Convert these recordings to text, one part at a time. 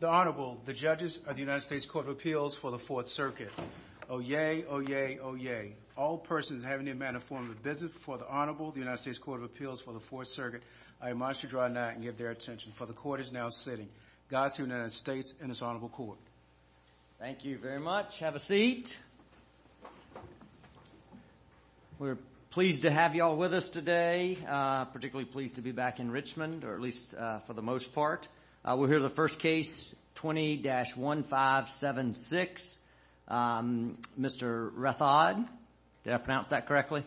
The Honorable, the judges of the United States Court of Appeals for the 4th Circuit. Oyez, oyez, oyez. All persons having the amount of form of business before the Honorable, the United States Court of Appeals for the 4th Circuit, I admonish you to draw nigh and give their attention, for the Court is now sitting. Godspeed to the United States and this Honorable Court. Thank you very much. Have a seat. We're pleased to have you all with us today, particularly pleased to be back in Richmond, or at least for the most part. We'll hear the first case, 20-1576. Mr. Rathod, did I pronounce that correctly?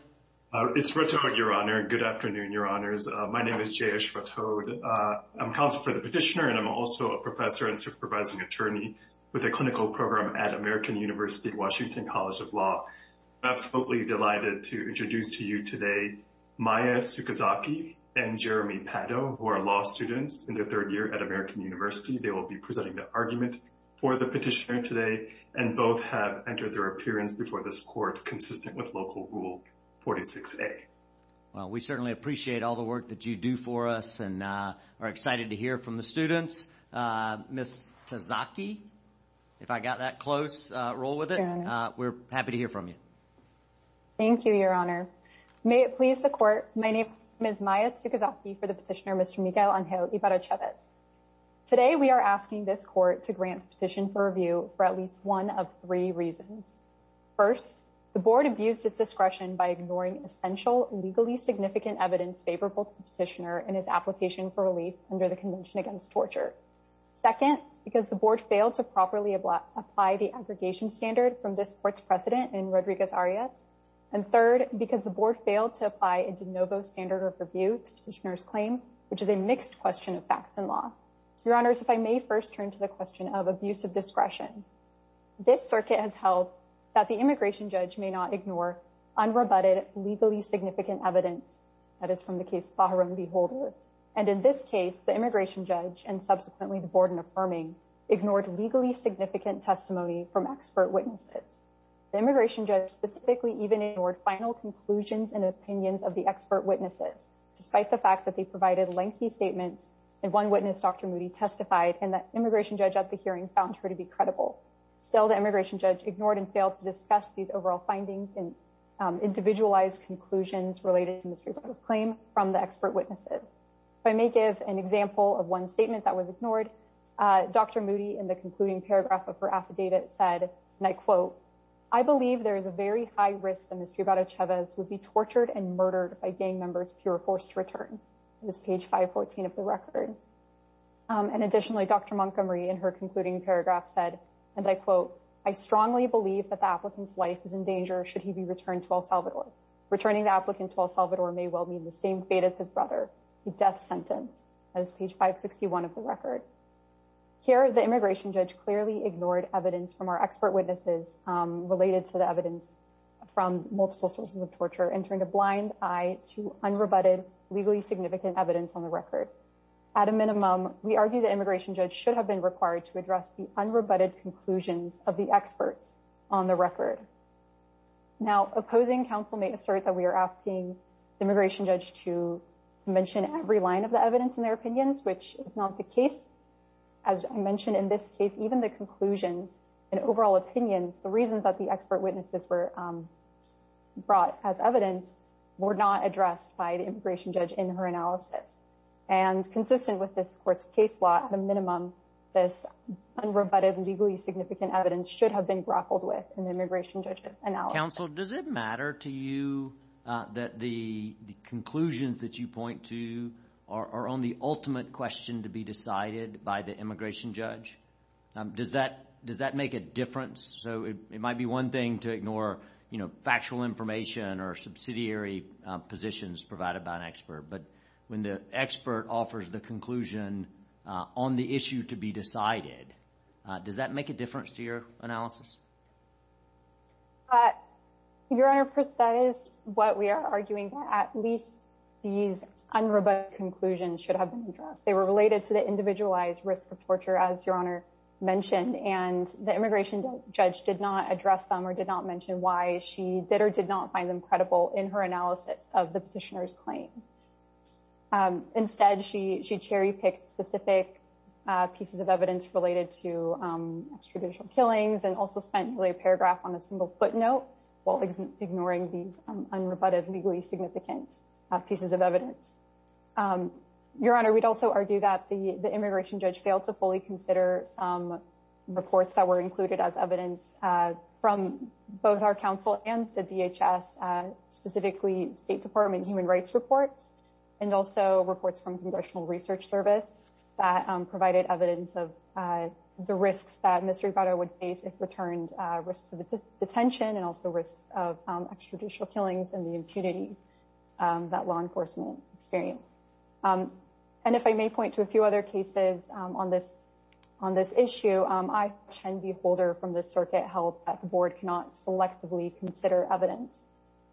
It's Rathod, Your Honor. Good afternoon, Your Honors. My name is Jayesh Rathod. I'm counsel for the petitioner, and I'm also a professor and supervising attorney with a clinical program at American University, Washington College of Law. I'm absolutely delighted to introduce to you today, Maya Sukazaki and Jeremy Pado, who are law students in their third year at American University. They will be presenting the argument for the petitioner today, and both have entered their appearance before this court consistent with Local Rule 46A. Well, we certainly appreciate all the work that you do for us and are excited to hear from the students. Ms. Sukazaki, if I got that close, roll with it. We're happy to hear from you. Thank you, Your Honor. May it please the Court, my name is Maya Sukazaki for the petitioner, Mr. Miguel Angel Ibarrachevez. Today, we are asking this Court to grant the petition for review for at least one of three reasons. First, the Board abused its discretion by ignoring essential, legally significant evidence favorable to the petitioner in his application for relief under the Convention Against Torture. Second, because the Board failed to properly apply the aggregation standard from this Court's precedent in Rodriguez-Arias. And third, because the Board failed to apply a de novo standard of review to the petitioner's claim, which is a mixed question of facts and law. Your Honors, if I may first turn to the question of abusive discretion. This circuit has held that the immigration judge may not ignore unrebutted, legally significant evidence, that is from the case Bajaran v. Holder. And in this case, the immigration judge, and subsequently the Board in affirming, ignored legally significant testimony from expert witnesses. The immigration judge specifically ignored final conclusions and opinions of the expert witnesses, despite the fact that they provided lengthy statements, and one witness, Dr. Moody, testified, and the immigration judge at the hearing found her to be credible. Still, the immigration judge ignored and failed to discuss these overall findings and individualized conclusions related to Mr. Ibarrachevez' claim from the expert witnesses. If I may give an example of one statement that was ignored, Dr. Moody, in the concluding paragraph of her affidavit, said, and I quote, I believe there is a very high risk that Mr. Ibarrachevez would be tortured and murdered by gang members if he were forced to return. This is page 514 of the record. And additionally, Dr. Montgomery, in her concluding paragraph, said, and I quote, I strongly believe that the applicant's life is in danger should he be returned to El Salvador. Returning the applicant to El Salvador may well mean the same fate as his brother, the death sentence. That is page 561 of the record. Here, the immigration judge clearly ignored evidence from our expert witnesses related to the evidence from multiple sources of torture, and turned a blind eye to unrebutted, legally significant evidence on the record. At a minimum, we argue the immigration judge should have been required to address the unrebutted conclusions of the experts on the record. Now, opposing counsel may assert that we are asking the immigration judge to mention every line of the evidence in their opinions, which is not the case. As I mentioned in this case, even the conclusions and overall opinions, the reasons that the expert witnesses were brought as evidence, were not addressed by the immigration judge in her analysis. And consistent with this court's case law, at a minimum, this unrebutted and legally significant evidence should have been grappled with in the immigration judge's analysis. Counsel, does it matter to you that the conclusions that you point to are on the ultimate question to be decided by the immigration judge? Does that make a difference? So it might be one thing to ignore factual information or subsidiary positions provided by an expert, but when the expert offers the conclusion on the issue to be decided, does that make a difference to your analysis? Your Honor, that is what we are arguing. At least these unrebutted conclusions should have been addressed. They were related to the individualized risk of torture, as Your Honor mentioned, and the immigration judge did not address them or did not mention why she did or did not find them credible in her analysis of the petitioner's claim. Instead, she cherry-picked specific pieces of evidence related to extradition killings and also spent nearly a paragraph on a single footnote while ignoring these unrebutted, legally significant pieces of evidence. Your Honor, we'd also argue that the immigration judge failed to fully consider some reports that were included as evidence from both our counsel and the DHS, specifically State Department human rights reports, and also reports from Congressional Research Service that provided evidence of the risks that Ms. Ribeiro would face if returned, risks of detention and also risks of extradition killings and the impunity that law enforcement experience. And if I may point to a few other cases on this issue, I, Chen V. Holder from this circuit, held that the Board cannot selectively consider evidence.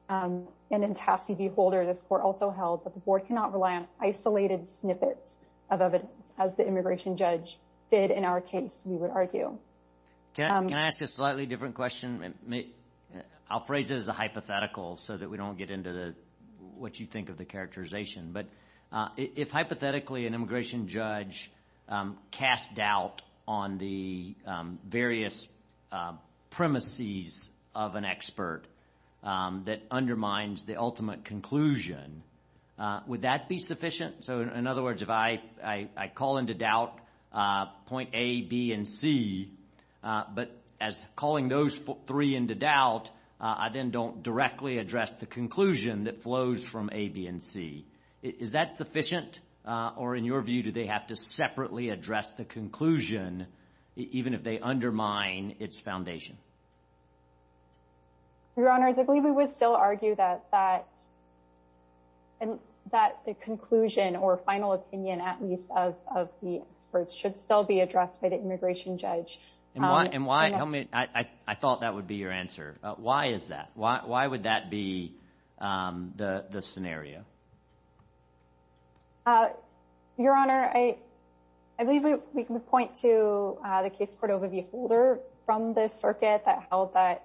And then Tassi V. Holder of this court also held that the Board cannot rely on isolated snippets of evidence, as the immigration judge did in our case, we would argue. Can I ask a slightly different question? I'll phrase it as a hypothetical so that we don't get into what you think of the characterization. But if hypothetically an immigration judge casts doubt on the various premises of an expert that undermines the ultimate conclusion, would that be sufficient? So in other words, if I call into doubt point A, B, and C, but as calling those three into doubt, I then don't directly address the conclusion that flows from A, B, and C. Is that sufficient? Or in your view, do they have to separately address the conclusion even if they undermine its foundation? Your Honor, I believe we would still argue that the conclusion or final opinion, at least, of the experts, should still be addressed by the immigration judge. I thought that would be your answer. Why is that? Why would that be the scenario? Your Honor, I believe we can point to the case court overview folder from the circuit that held that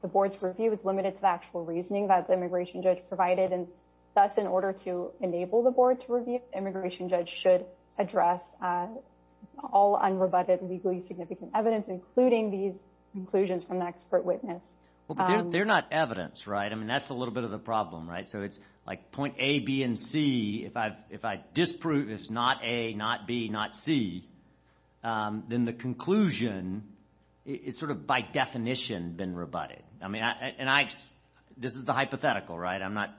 the board's review was limited to the actual reasoning that the immigration judge provided. And thus, in order to enable the board to review, the immigration judge should address all unrebutted legally significant evidence, including these conclusions from the expert witness. Well, but they're not evidence, right? I mean, that's a little bit of the problem, right? So it's like point A, B, and C. If I disprove it's not A, not B, not C, then the conclusion is sort of by definition been rebutted. I mean, this is the hypothetical, right? I'm not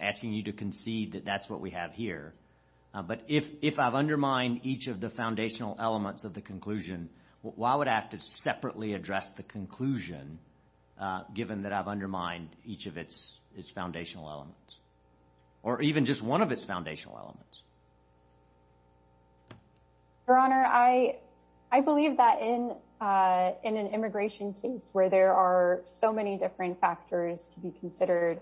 asking you to concede that that's what we have here. But if I've undermined each of the foundational elements of the conclusion, why would I have to separately address the conclusion given that I've undermined each of its foundational elements, or even just one of its foundational elements? Your Honor, I believe that in an immigration case where there are so many different factors to be considered,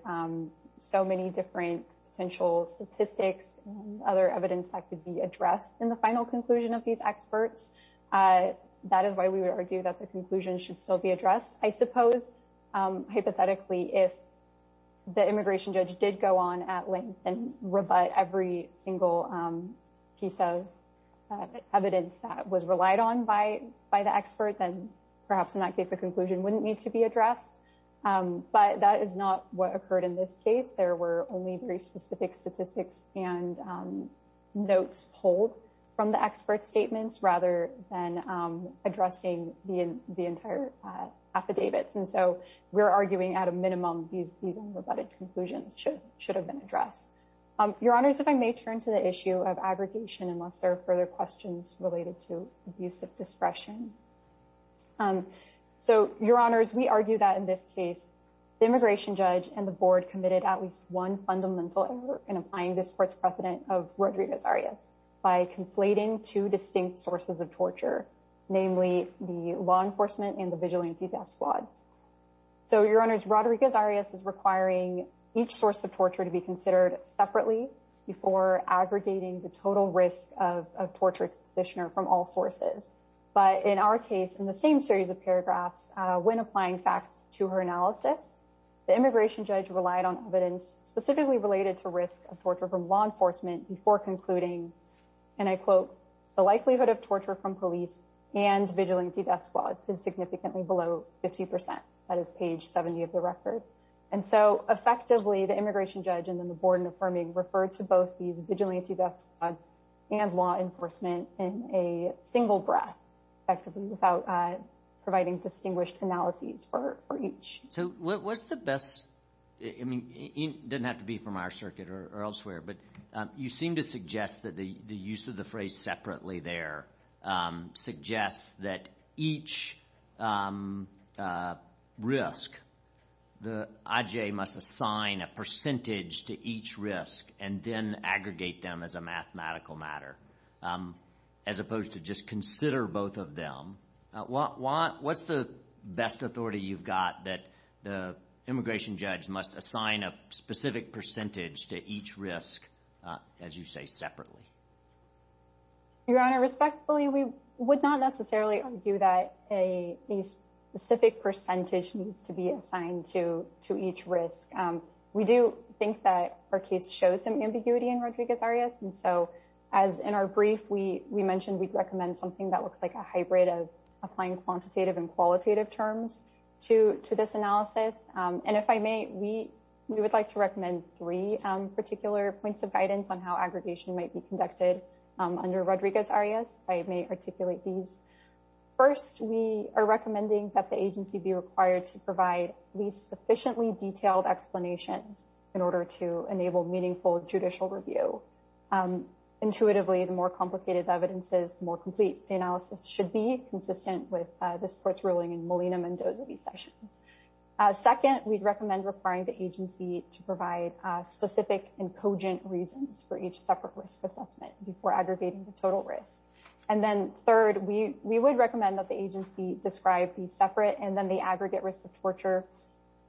so many different potential statistics, other evidence that could be addressed in the final conclusion of these experts. That is why we would argue that the conclusion should still be addressed. I suppose, hypothetically, if the immigration judge did go on at length and rebut every single piece of evidence that was relied on by the expert, then perhaps in that case, the conclusion wouldn't need to be addressed. But that is not what occurred in this case. There were only very specific statistics and notes pulled from the expert statements rather than addressing the entire affidavits. And so we're arguing at a minimum these rebutted conclusions should have been addressed. Your Honors, if I may turn to the issue of aggregation, unless there are further questions related to abuse of discretion. So, Your Honors, we argue that in this case, the immigration judge and the board committed at least one fundamental error in applying this court's precedent of Rodriguez-Arias by conflating two distinct sources of torture, namely the law enforcement and the vigilante death squads. So, Your Honors, Rodriguez-Arias is requiring each source of torture to be considered separately before aggregating the total risk of torture to the petitioner from all sources. But in our case, in the same series of paragraphs, when applying facts to her analysis, the immigration judge relied on evidence specifically related to risk of torture from law enforcement before concluding, and I quote, the likelihood of torture from police and vigilante death squads is significantly below 50 percent. That is page 70 of the record. And so, effectively, the immigration judge and then the board in affirming referred to both these vigilante death squads and law enforcement in a single breath effectively without providing distinguished analyses for each. So, what's the best, I mean, it doesn't have to be from our circuit or elsewhere, but you seem to suggest that the use of the phrase separately there suggests that each risk, the IJ must assign a percentage to each risk and then aggregate them as a mathematical matter, as opposed to just consider both of them. What's the best authority you've got that the immigration judge must assign a specific percentage to each risk, as you say, separately? Your Honor, respectfully, we would not necessarily argue that a specific percentage needs to be assigned to each risk. We do think that our case shows some ambiguity in Rodriguez-Arias. And so, as in our brief, we mentioned we'd recommend something that looks like a hybrid of applying quantitative and qualitative terms to this analysis. And if I may, we would like to recommend three particular points of guidance on how aggregation might be conducted under Rodriguez-Arias. If I may articulate these. First, we are recommending that the agency be required to provide at least sufficiently detailed explanations in order to enable meaningful judicial review. Intuitively, the more complicated the evidence is, the more complete the analysis should be, consistent with this court's ruling in Molina-Mendoza v. Sessions. Second, we'd recommend requiring the agency to provide specific and cogent reasons for each separate risk assessment before aggregating the total risk. And then third, we would recommend that the agency describe the separate and then the aggregate risk of torture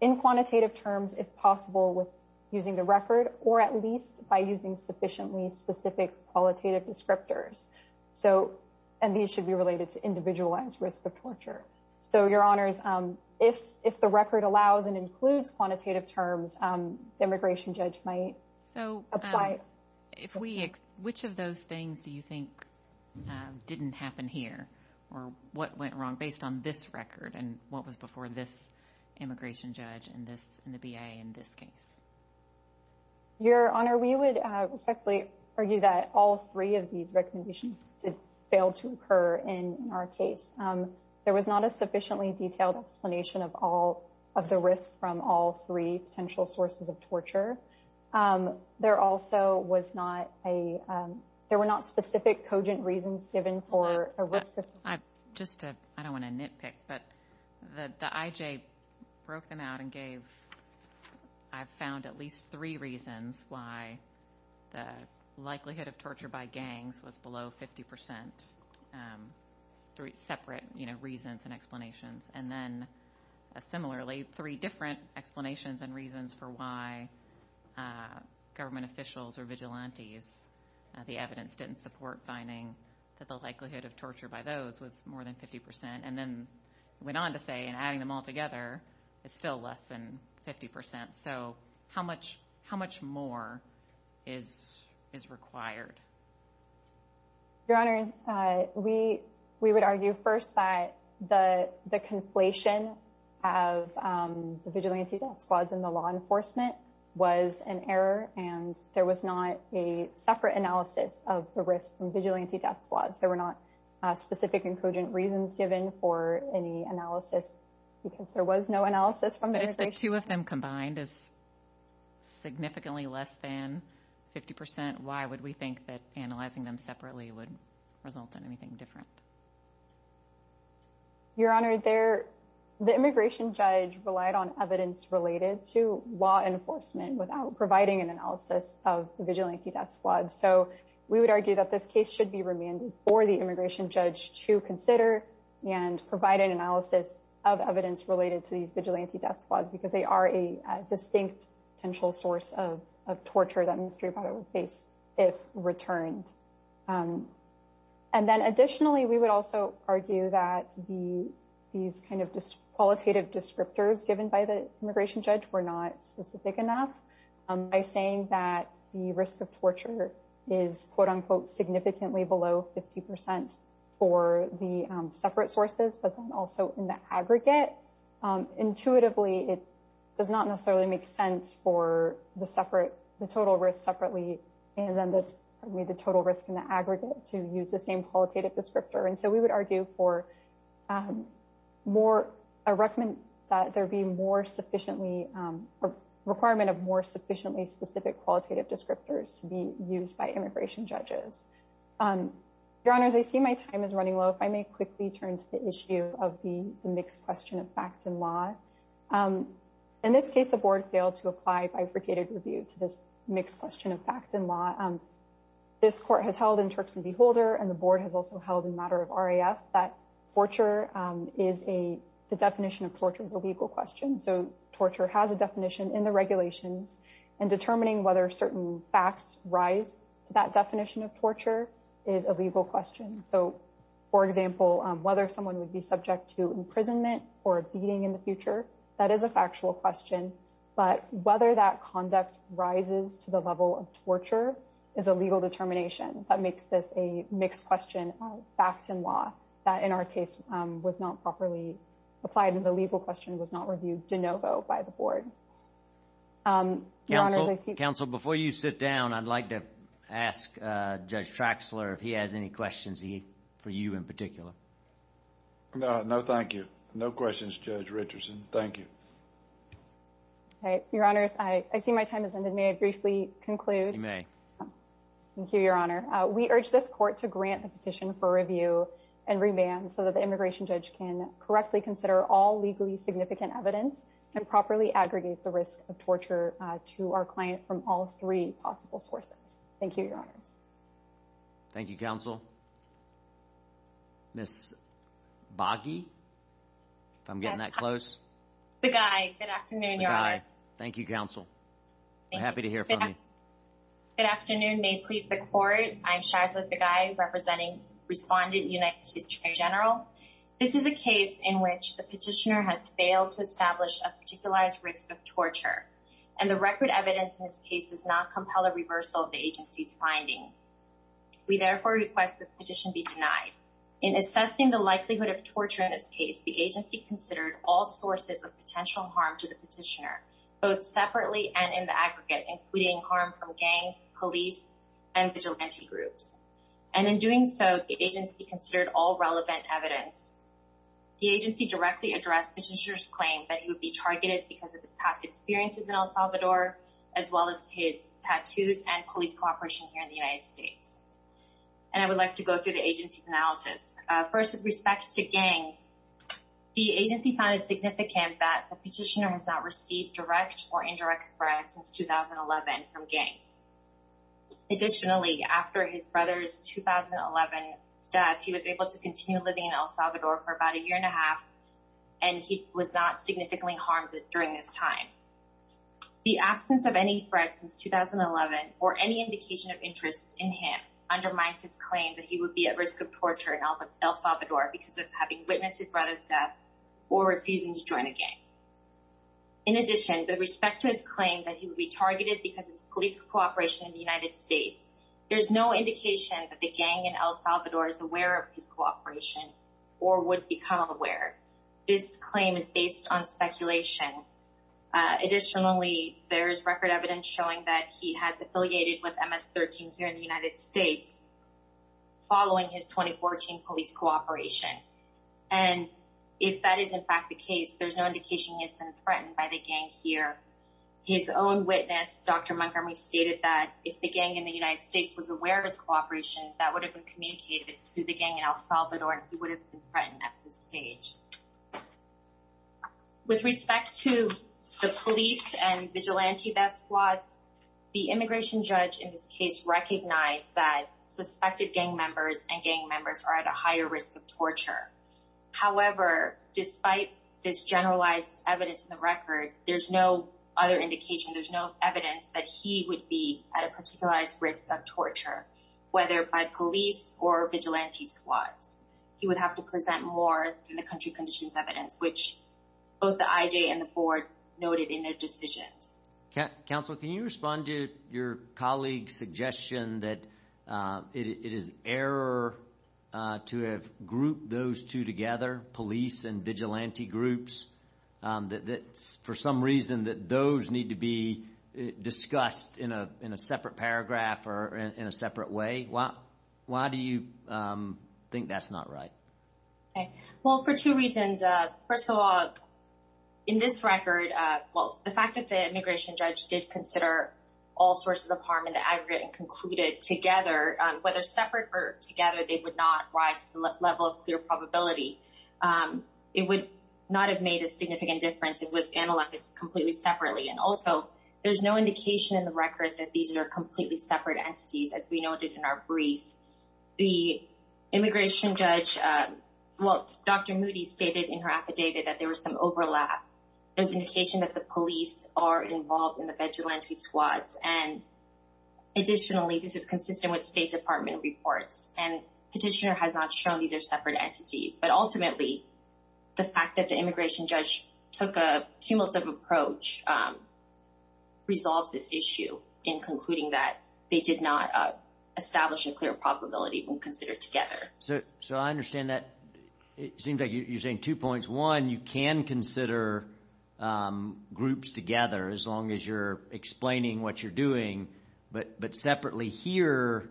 in quantitative terms, if possible, with using the record, or at least by using sufficiently specific qualitative descriptors. And these should be related to individualized risk of torture. So, Your Honors, if the record allows and includes quantitative terms, the immigration judge might apply. So, which of those things do you think didn't happen here, or what went wrong based on this record, and what was before this immigration judge and the BIA in this case? Your Honor, we would respectfully argue that all three of these recommendations did fail to occur in our case. There was not a sufficiently detailed explanation of the risk from all three potential sources of torture. There also was not a – there were not specific cogent reasons given for a risk assessment. Just to – I don't want to nitpick, but the IJ broke them out and gave, I found, at least three reasons why the likelihood of torture by gangs was below 50 percent, three separate reasons and explanations. And then, similarly, three different explanations and reasons for why government officials or vigilantes, the evidence didn't support finding that the likelihood of torture by those was more than 50 percent. And then went on to say, and adding them all together, it's still less than 50 percent. So, how much more is required? Your Honor, we would argue first that the conflation of the vigilante death squads and the law enforcement was an error, and there was not a separate analysis of the risk from vigilante death squads. There were not specific and cogent reasons given for any analysis, because there was no analysis from the immigration judge. If the two of them combined is significantly less than 50 percent, why would we think that analyzing them separately would result in anything different? Your Honor, the immigration judge relied on evidence related to law enforcement without providing an analysis of vigilante death squads. So, we would argue that this case should be remanded for the immigration judge to consider and provide an analysis of evidence related to the vigilante death squad, because they are a distinct potential source of torture that Mr. Ybarra would face if returned. And then additionally, we would also argue that these kind of qualitative descriptors given by the immigration judge were not specific enough. By saying that the risk of torture is quote-unquote significantly below 50 percent for the separate sources, but then also in the aggregate, intuitively it does not necessarily make sense for the total risk separately and then the total risk in the aggregate to use the same qualitative descriptor. And so, we would argue for a requirement of more sufficiently specific qualitative descriptors to be used by immigration judges. Your Honors, I see my time is running low. If I may quickly turn to the issue of the mixed question of fact and law. In this case, the Board failed to apply bifurcated review to this mixed question of fact and law. This court has held in Turks and Beholder, and the Board has also held in matter of RAF, that the definition of torture is a legal question. So, torture has a definition in the regulations, and determining whether certain facts rise to that definition of torture is a legal question. So, for example, whether someone would be subject to imprisonment or beating in the future, that is a factual question. But whether that conduct rises to the level of torture is a legal determination that makes this a mixed question of fact and law. That in our case was not properly applied, and the legal question was not reviewed de novo by the Board. Your Honors, I see... Counsel, before you sit down, I'd like to ask Judge Traxler if he has any questions for you in particular. No, thank you. No questions, Judge Richardson. Thank you. Your Honors, I see my time has ended. May I briefly conclude? You may. Thank you, Your Honor. We urge this court to grant the petition for review and remand so that the immigration judge can correctly consider all legally significant evidence and properly aggregate the risk of torture to our client from all three possible sources. Thank you, Your Honors. Thank you, Counsel. Ms. Boggy, if I'm getting that close? Boggy, good afternoon, Your Honor. Boggy, thank you, Counsel. I'm happy to hear from you. Good afternoon. May it please the Court, I'm Sharza Boggy, representing Respondent United States Attorney General. This is a case in which the petitioner has failed to establish a particularized risk of torture, and the record evidence in this case does not compel a reversal of the agency's finding. We therefore request that the petition be denied. In assessing the likelihood of torture in this case, the agency considered all sources of potential harm to the petitioner, both separately and in the aggregate, including harm from gangs, police, and vigilante groups. And in doing so, the agency considered all relevant evidence. The agency directly addressed the petitioner's claim that he would be targeted because of his past experiences in El Salvador, as well as his tattoos and police cooperation here in the United States. And I would like to go through the agency's analysis. First, with respect to gangs, the agency found it significant that the petitioner has not received direct or indirect threats since 2011 from gangs. Additionally, after his brother's 2011 death, he was able to continue living in El Salvador for about a year and a half, and he was not significantly harmed during this time. The absence of any threats since 2011, or any indication of interest in him, undermines his claim that he would be at risk of torture in El Salvador because of having witnessed his brother's death or refusing to join a gang. In addition, with respect to his claim that he would be targeted because of his police cooperation in the United States, there is no indication that the gang in El Salvador is aware of his cooperation or would become aware. This claim is based on speculation. Additionally, there is record evidence showing that he has affiliated with MS-13 here in the United States following his 2014 police cooperation. And if that is in fact the case, there is no indication he has been threatened by the gang here. His own witness, Dr. Montgomery, stated that if the gang in the United States was aware of his cooperation, that would have been communicated to the gang in El Salvador, and he would have been threatened at this stage. With respect to the police and vigilante death squads, the immigration judge in this case recognized that suspected gang members and gang members are at a higher risk of torture. However, despite this generalized evidence in the record, there's no other indication, there's no evidence that he would be at a particularized risk of torture, whether by police or vigilante squads. He would have to present more than the country conditions evidence, which both the IJ and the board noted in their decisions. Counsel, can you respond to your colleague's suggestion that it is error to have grouped those two together, police and vigilante groups, that for some reason that those need to be discussed in a separate paragraph or in a separate way? Why do you think that's not right? Well, for two reasons. First of all, in this record, well, the fact that the immigration judge did consider all sources of harm in the aggregate and concluded together, whether separate or together, they would not rise to the level of clear probability. It would not have made a significant difference if it was analyzed completely separately. And also, there's no indication in the record that these are completely separate entities, as we noted in our brief. The immigration judge, well, Dr. Moody stated in her affidavit that there was some overlap. There's indication that the police are involved in the vigilante squads. And additionally, this is consistent with State Department reports and petitioner has not shown these are separate entities. But ultimately, the fact that the immigration judge took a cumulative approach resolves this issue in concluding that they did not establish a clear probability when considered together. So I understand that. It seems like you're saying two points. One, you can consider groups together as long as you're explaining what you're doing. But separately here,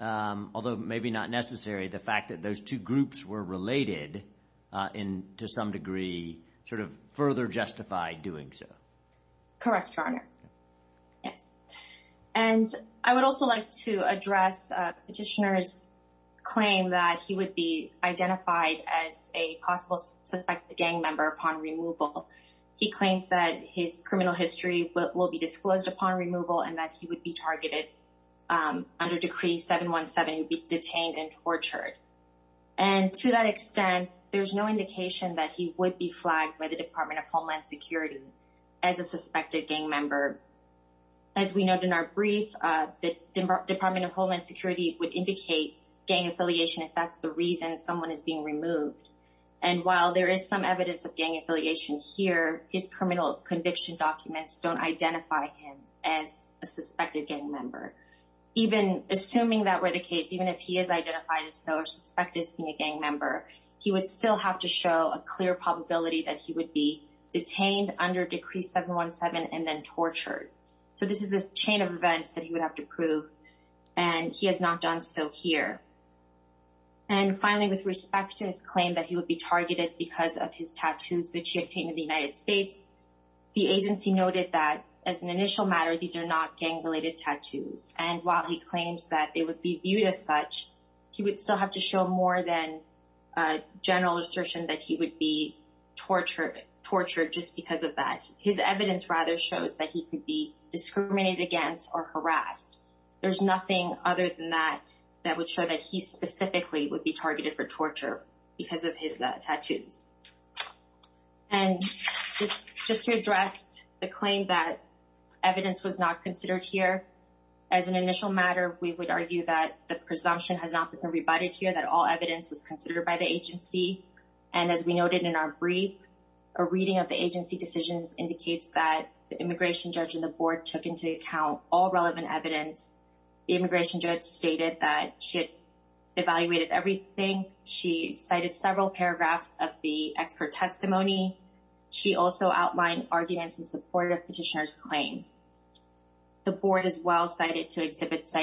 although maybe not necessary, the fact that those two groups were related to some degree sort of further justified doing so. Correct, Your Honor. Yes. And I would also like to address petitioner's claim that he would be identified as a possible suspected gang member upon removal. He claims that his criminal history will be disclosed upon removal and that he would be targeted under Decree 717, be detained and tortured. And to that extent, there's no indication that he would be flagged by the Department of Homeland Security as a suspected gang member. As we noted in our brief, the Department of Homeland Security would indicate gang affiliation if that's the reason someone is being removed. And while there is some evidence of gang affiliation here, his criminal conviction documents don't identify him as a suspected gang member. Even assuming that were the case, even if he is identified as so or suspected as being a gang member, he would still have to show a clear probability that he would be detained under Decree 717 and then tortured. So this is a chain of events that he would have to prove. And he has not done so here. And finally, with respect to his claim that he would be targeted because of his tattoos that he obtained in the United States, the agency noted that as an initial matter, these are not gang-related tattoos. And while he claims that they would be viewed as such, he would still have to show more than a general assertion that he would be tortured just because of that. His evidence rather shows that he could be discriminated against or harassed. There's nothing other than that that would show that he specifically would be targeted for torture because of his tattoos. And just to address the claim that evidence was not considered here, as an initial matter, we would argue that the presumption has not been rebutted here, that all evidence was considered by the agency. And as we noted in our brief, a reading of the agency decisions indicates that the immigration judge and the board took into account all relevant evidence. The immigration judge stated that she had evaluated everything. She cited several paragraphs of the expert testimony. She also outlined arguments in support of Petitioner's claim. The board as well cited two exhibits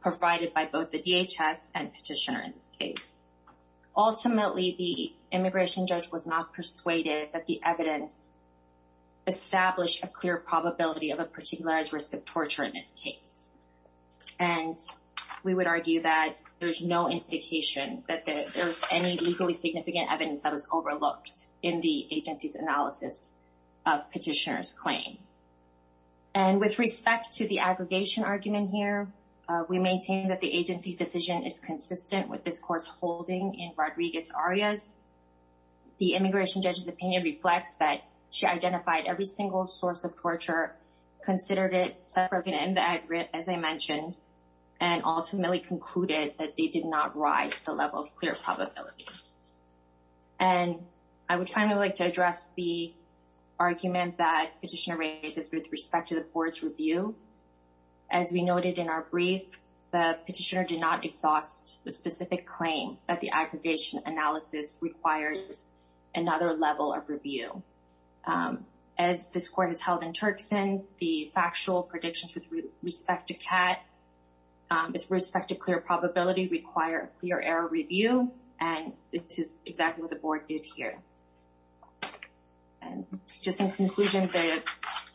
provided by both the DHS and Petitioner in this case. Ultimately, the immigration judge was not persuaded that the evidence established a clear probability of a particularized risk of torture in this case. And we would argue that there's no indication that there's any legally significant evidence that was overlooked in the agency's analysis of Petitioner's claim. And with respect to the aggregation argument here, we maintain that the agency's decision is consistent with this court's holding in Rodriguez-Arias. The immigration judge's opinion reflects that she identified every single source of torture, considered it separate and as I mentioned, and ultimately concluded that they did not rise to the level of clear probability. And I would finally like to address the argument that Petitioner raises with respect to the board's review. As we noted in our brief, the Petitioner did not exhaust the specific claim that the aggregation analysis requires another level of review. As this court has held in Turkson, the factual predictions with respect to CAT, with respect to clear probability require a clear error review. And this is exactly what the board did here. And just in conclusion, the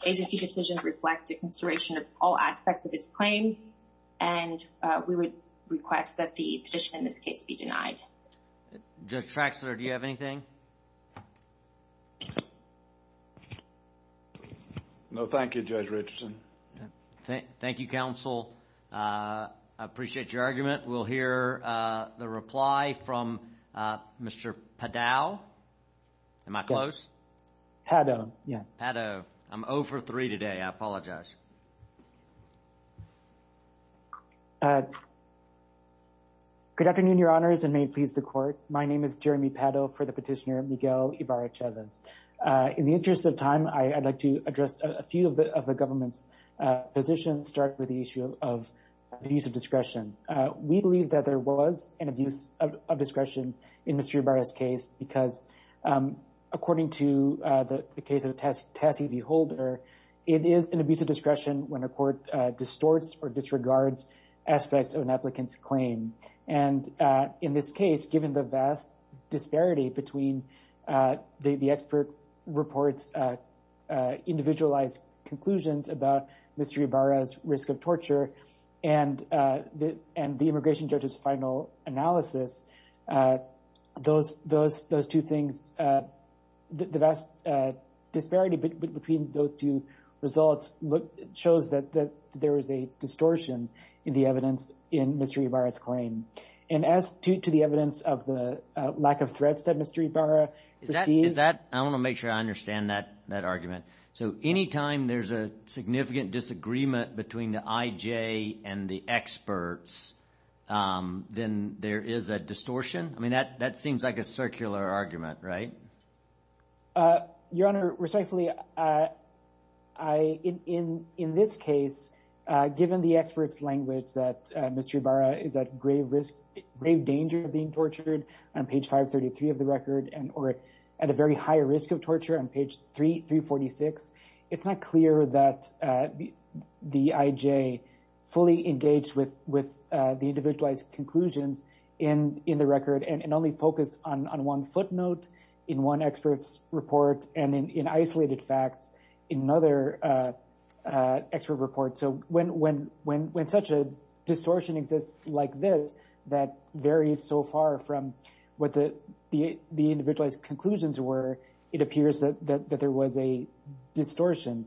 agency decision reflected consideration of all aspects of its claim. And we would request that the petition in this case be denied. Judge Traxler, do you have anything? No, thank you, Judge Richardson. Thank you, counsel. I appreciate your argument. We'll hear the reply from Mr. Padau. Am I close? Padau, yeah. Padau. I'm 0 for 3 today. I apologize. Good afternoon, Your Honors, and may it please the court. My name is Jeremy Padau for the Petitioner, Miguel Ibarra-Chavez. In the interest of time, I'd like to address a few of the government's positions, starting with the issue of abuse of discretion. We believe that there was an abuse of discretion in Mr. Ibarra's case because, according to the case of Tassie V. Holder, it is an abuse of discretion when a court distorts or disregards aspects of an applicant's claim. And in this case, given the vast disparity between the expert report's individualized conclusions about Mr. Ibarra's risk of torture and the immigration judge's final analysis, those two things, the vast disparity between those two results shows that there is a distortion in the evidence in Mr. Ibarra's claim. And as to the evidence of the lack of threats that Mr. Ibarra received— Is that—I want to make sure I understand that argument. So anytime there's a significant disagreement between the IJ and the experts, then there is a distortion? I mean, that seems like a circular argument, right? Your Honor, respectfully, in this case, given the experts' language that Mr. Ibarra is at grave danger of being tortured on page 533 of the record or at a very high risk of torture on page 346, it's not clear that the IJ fully engaged with the individualized conclusions in the record and only focused on one footnote in one expert's report and in isolated facts in another expert report. So when such a distortion exists like this that varies so far from what the individualized conclusions were, it appears that there was a distortion.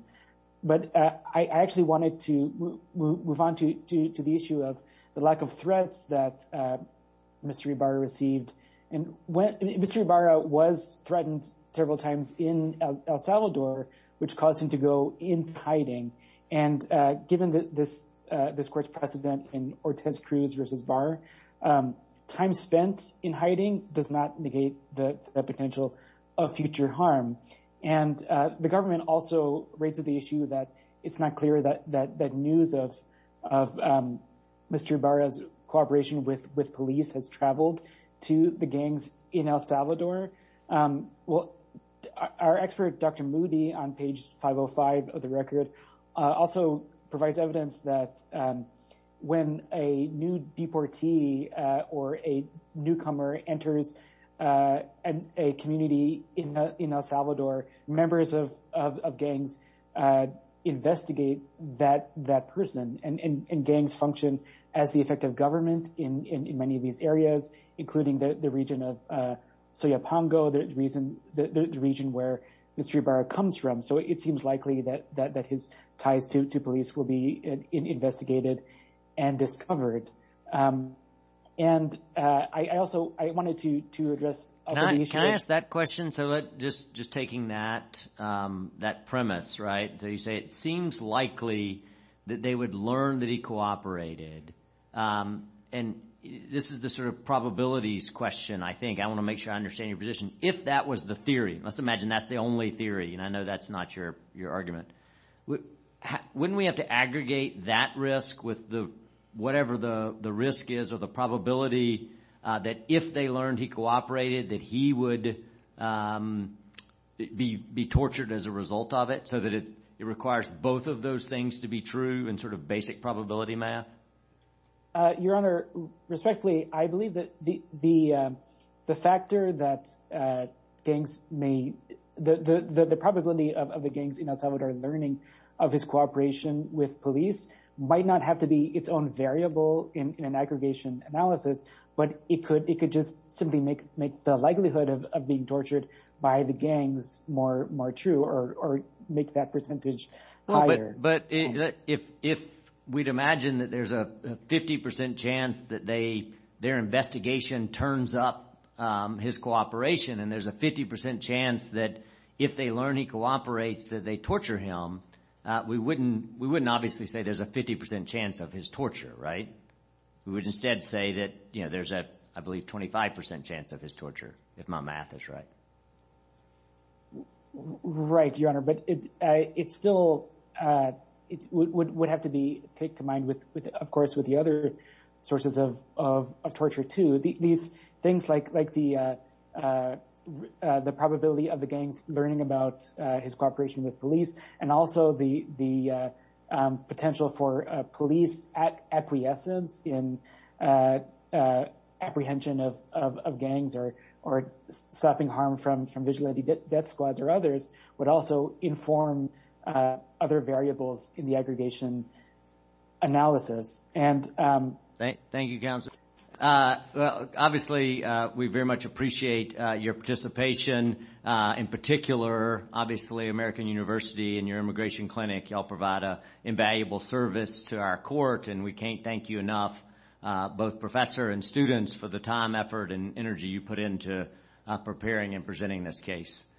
But I actually wanted to move on to the issue of the lack of threats that Mr. Ibarra received. Mr. Ibarra was threatened several times in El Salvador, which caused him to go into hiding. And given this court's precedent in Ortiz-Cruz v. Barr, time spent in hiding does not negate the potential of future harm. And the government also raised the issue that it's not clear that news of Mr. Ibarra's cooperation with police has traveled to the gangs in El Salvador. Well, our expert, Dr. Moody, on page 505 of the record also provides evidence that when a new deportee or a newcomer enters a community in El Salvador, members of gangs investigate that person. And gangs function as the effect of government in many of these areas, including the region of Soya Pongo, the region where Mr. Ibarra comes from. So it seems likely that his ties to police will be investigated and discovered. And I also wanted to address other issues. Can I ask that question? So just taking that premise, right, so you say it seems likely that they would learn that he cooperated. And this is the sort of probabilities question, I think. I want to make sure I understand your position. If that was the theory, let's imagine that's the only theory, and I know that's not your argument. Wouldn't we have to aggregate that risk with whatever the risk is or the probability that if they learned he cooperated that he would be tortured as a result of it so that it requires both of those things to be true in sort of basic probability math? Your Honor, respectfully, I believe that the factor that gangs may, the probability of the gangs in El Salvador learning of his cooperation with police might not have to be its own variable in an aggregation analysis. But it could just simply make the likelihood of being tortured by the gangs more true or make that percentage higher. But if we'd imagine that there's a 50 percent chance that their investigation turns up his cooperation and there's a 50 percent chance that if they learn he cooperates that they torture him, we wouldn't obviously say there's a 50 percent chance of his torture, right? We would instead say that there's a, I believe, 25 percent chance of his torture, if my math is right. Right, Your Honor. from vigilante death squads or others would also inform other variables in the aggregation analysis. Obviously, we very much appreciate your participation. In particular, obviously, American University and your immigration clinic, you all provide an invaluable service to our court, and we can't thank you enough, both professor and students, for the time, effort, and energy you put into preparing and presenting this case.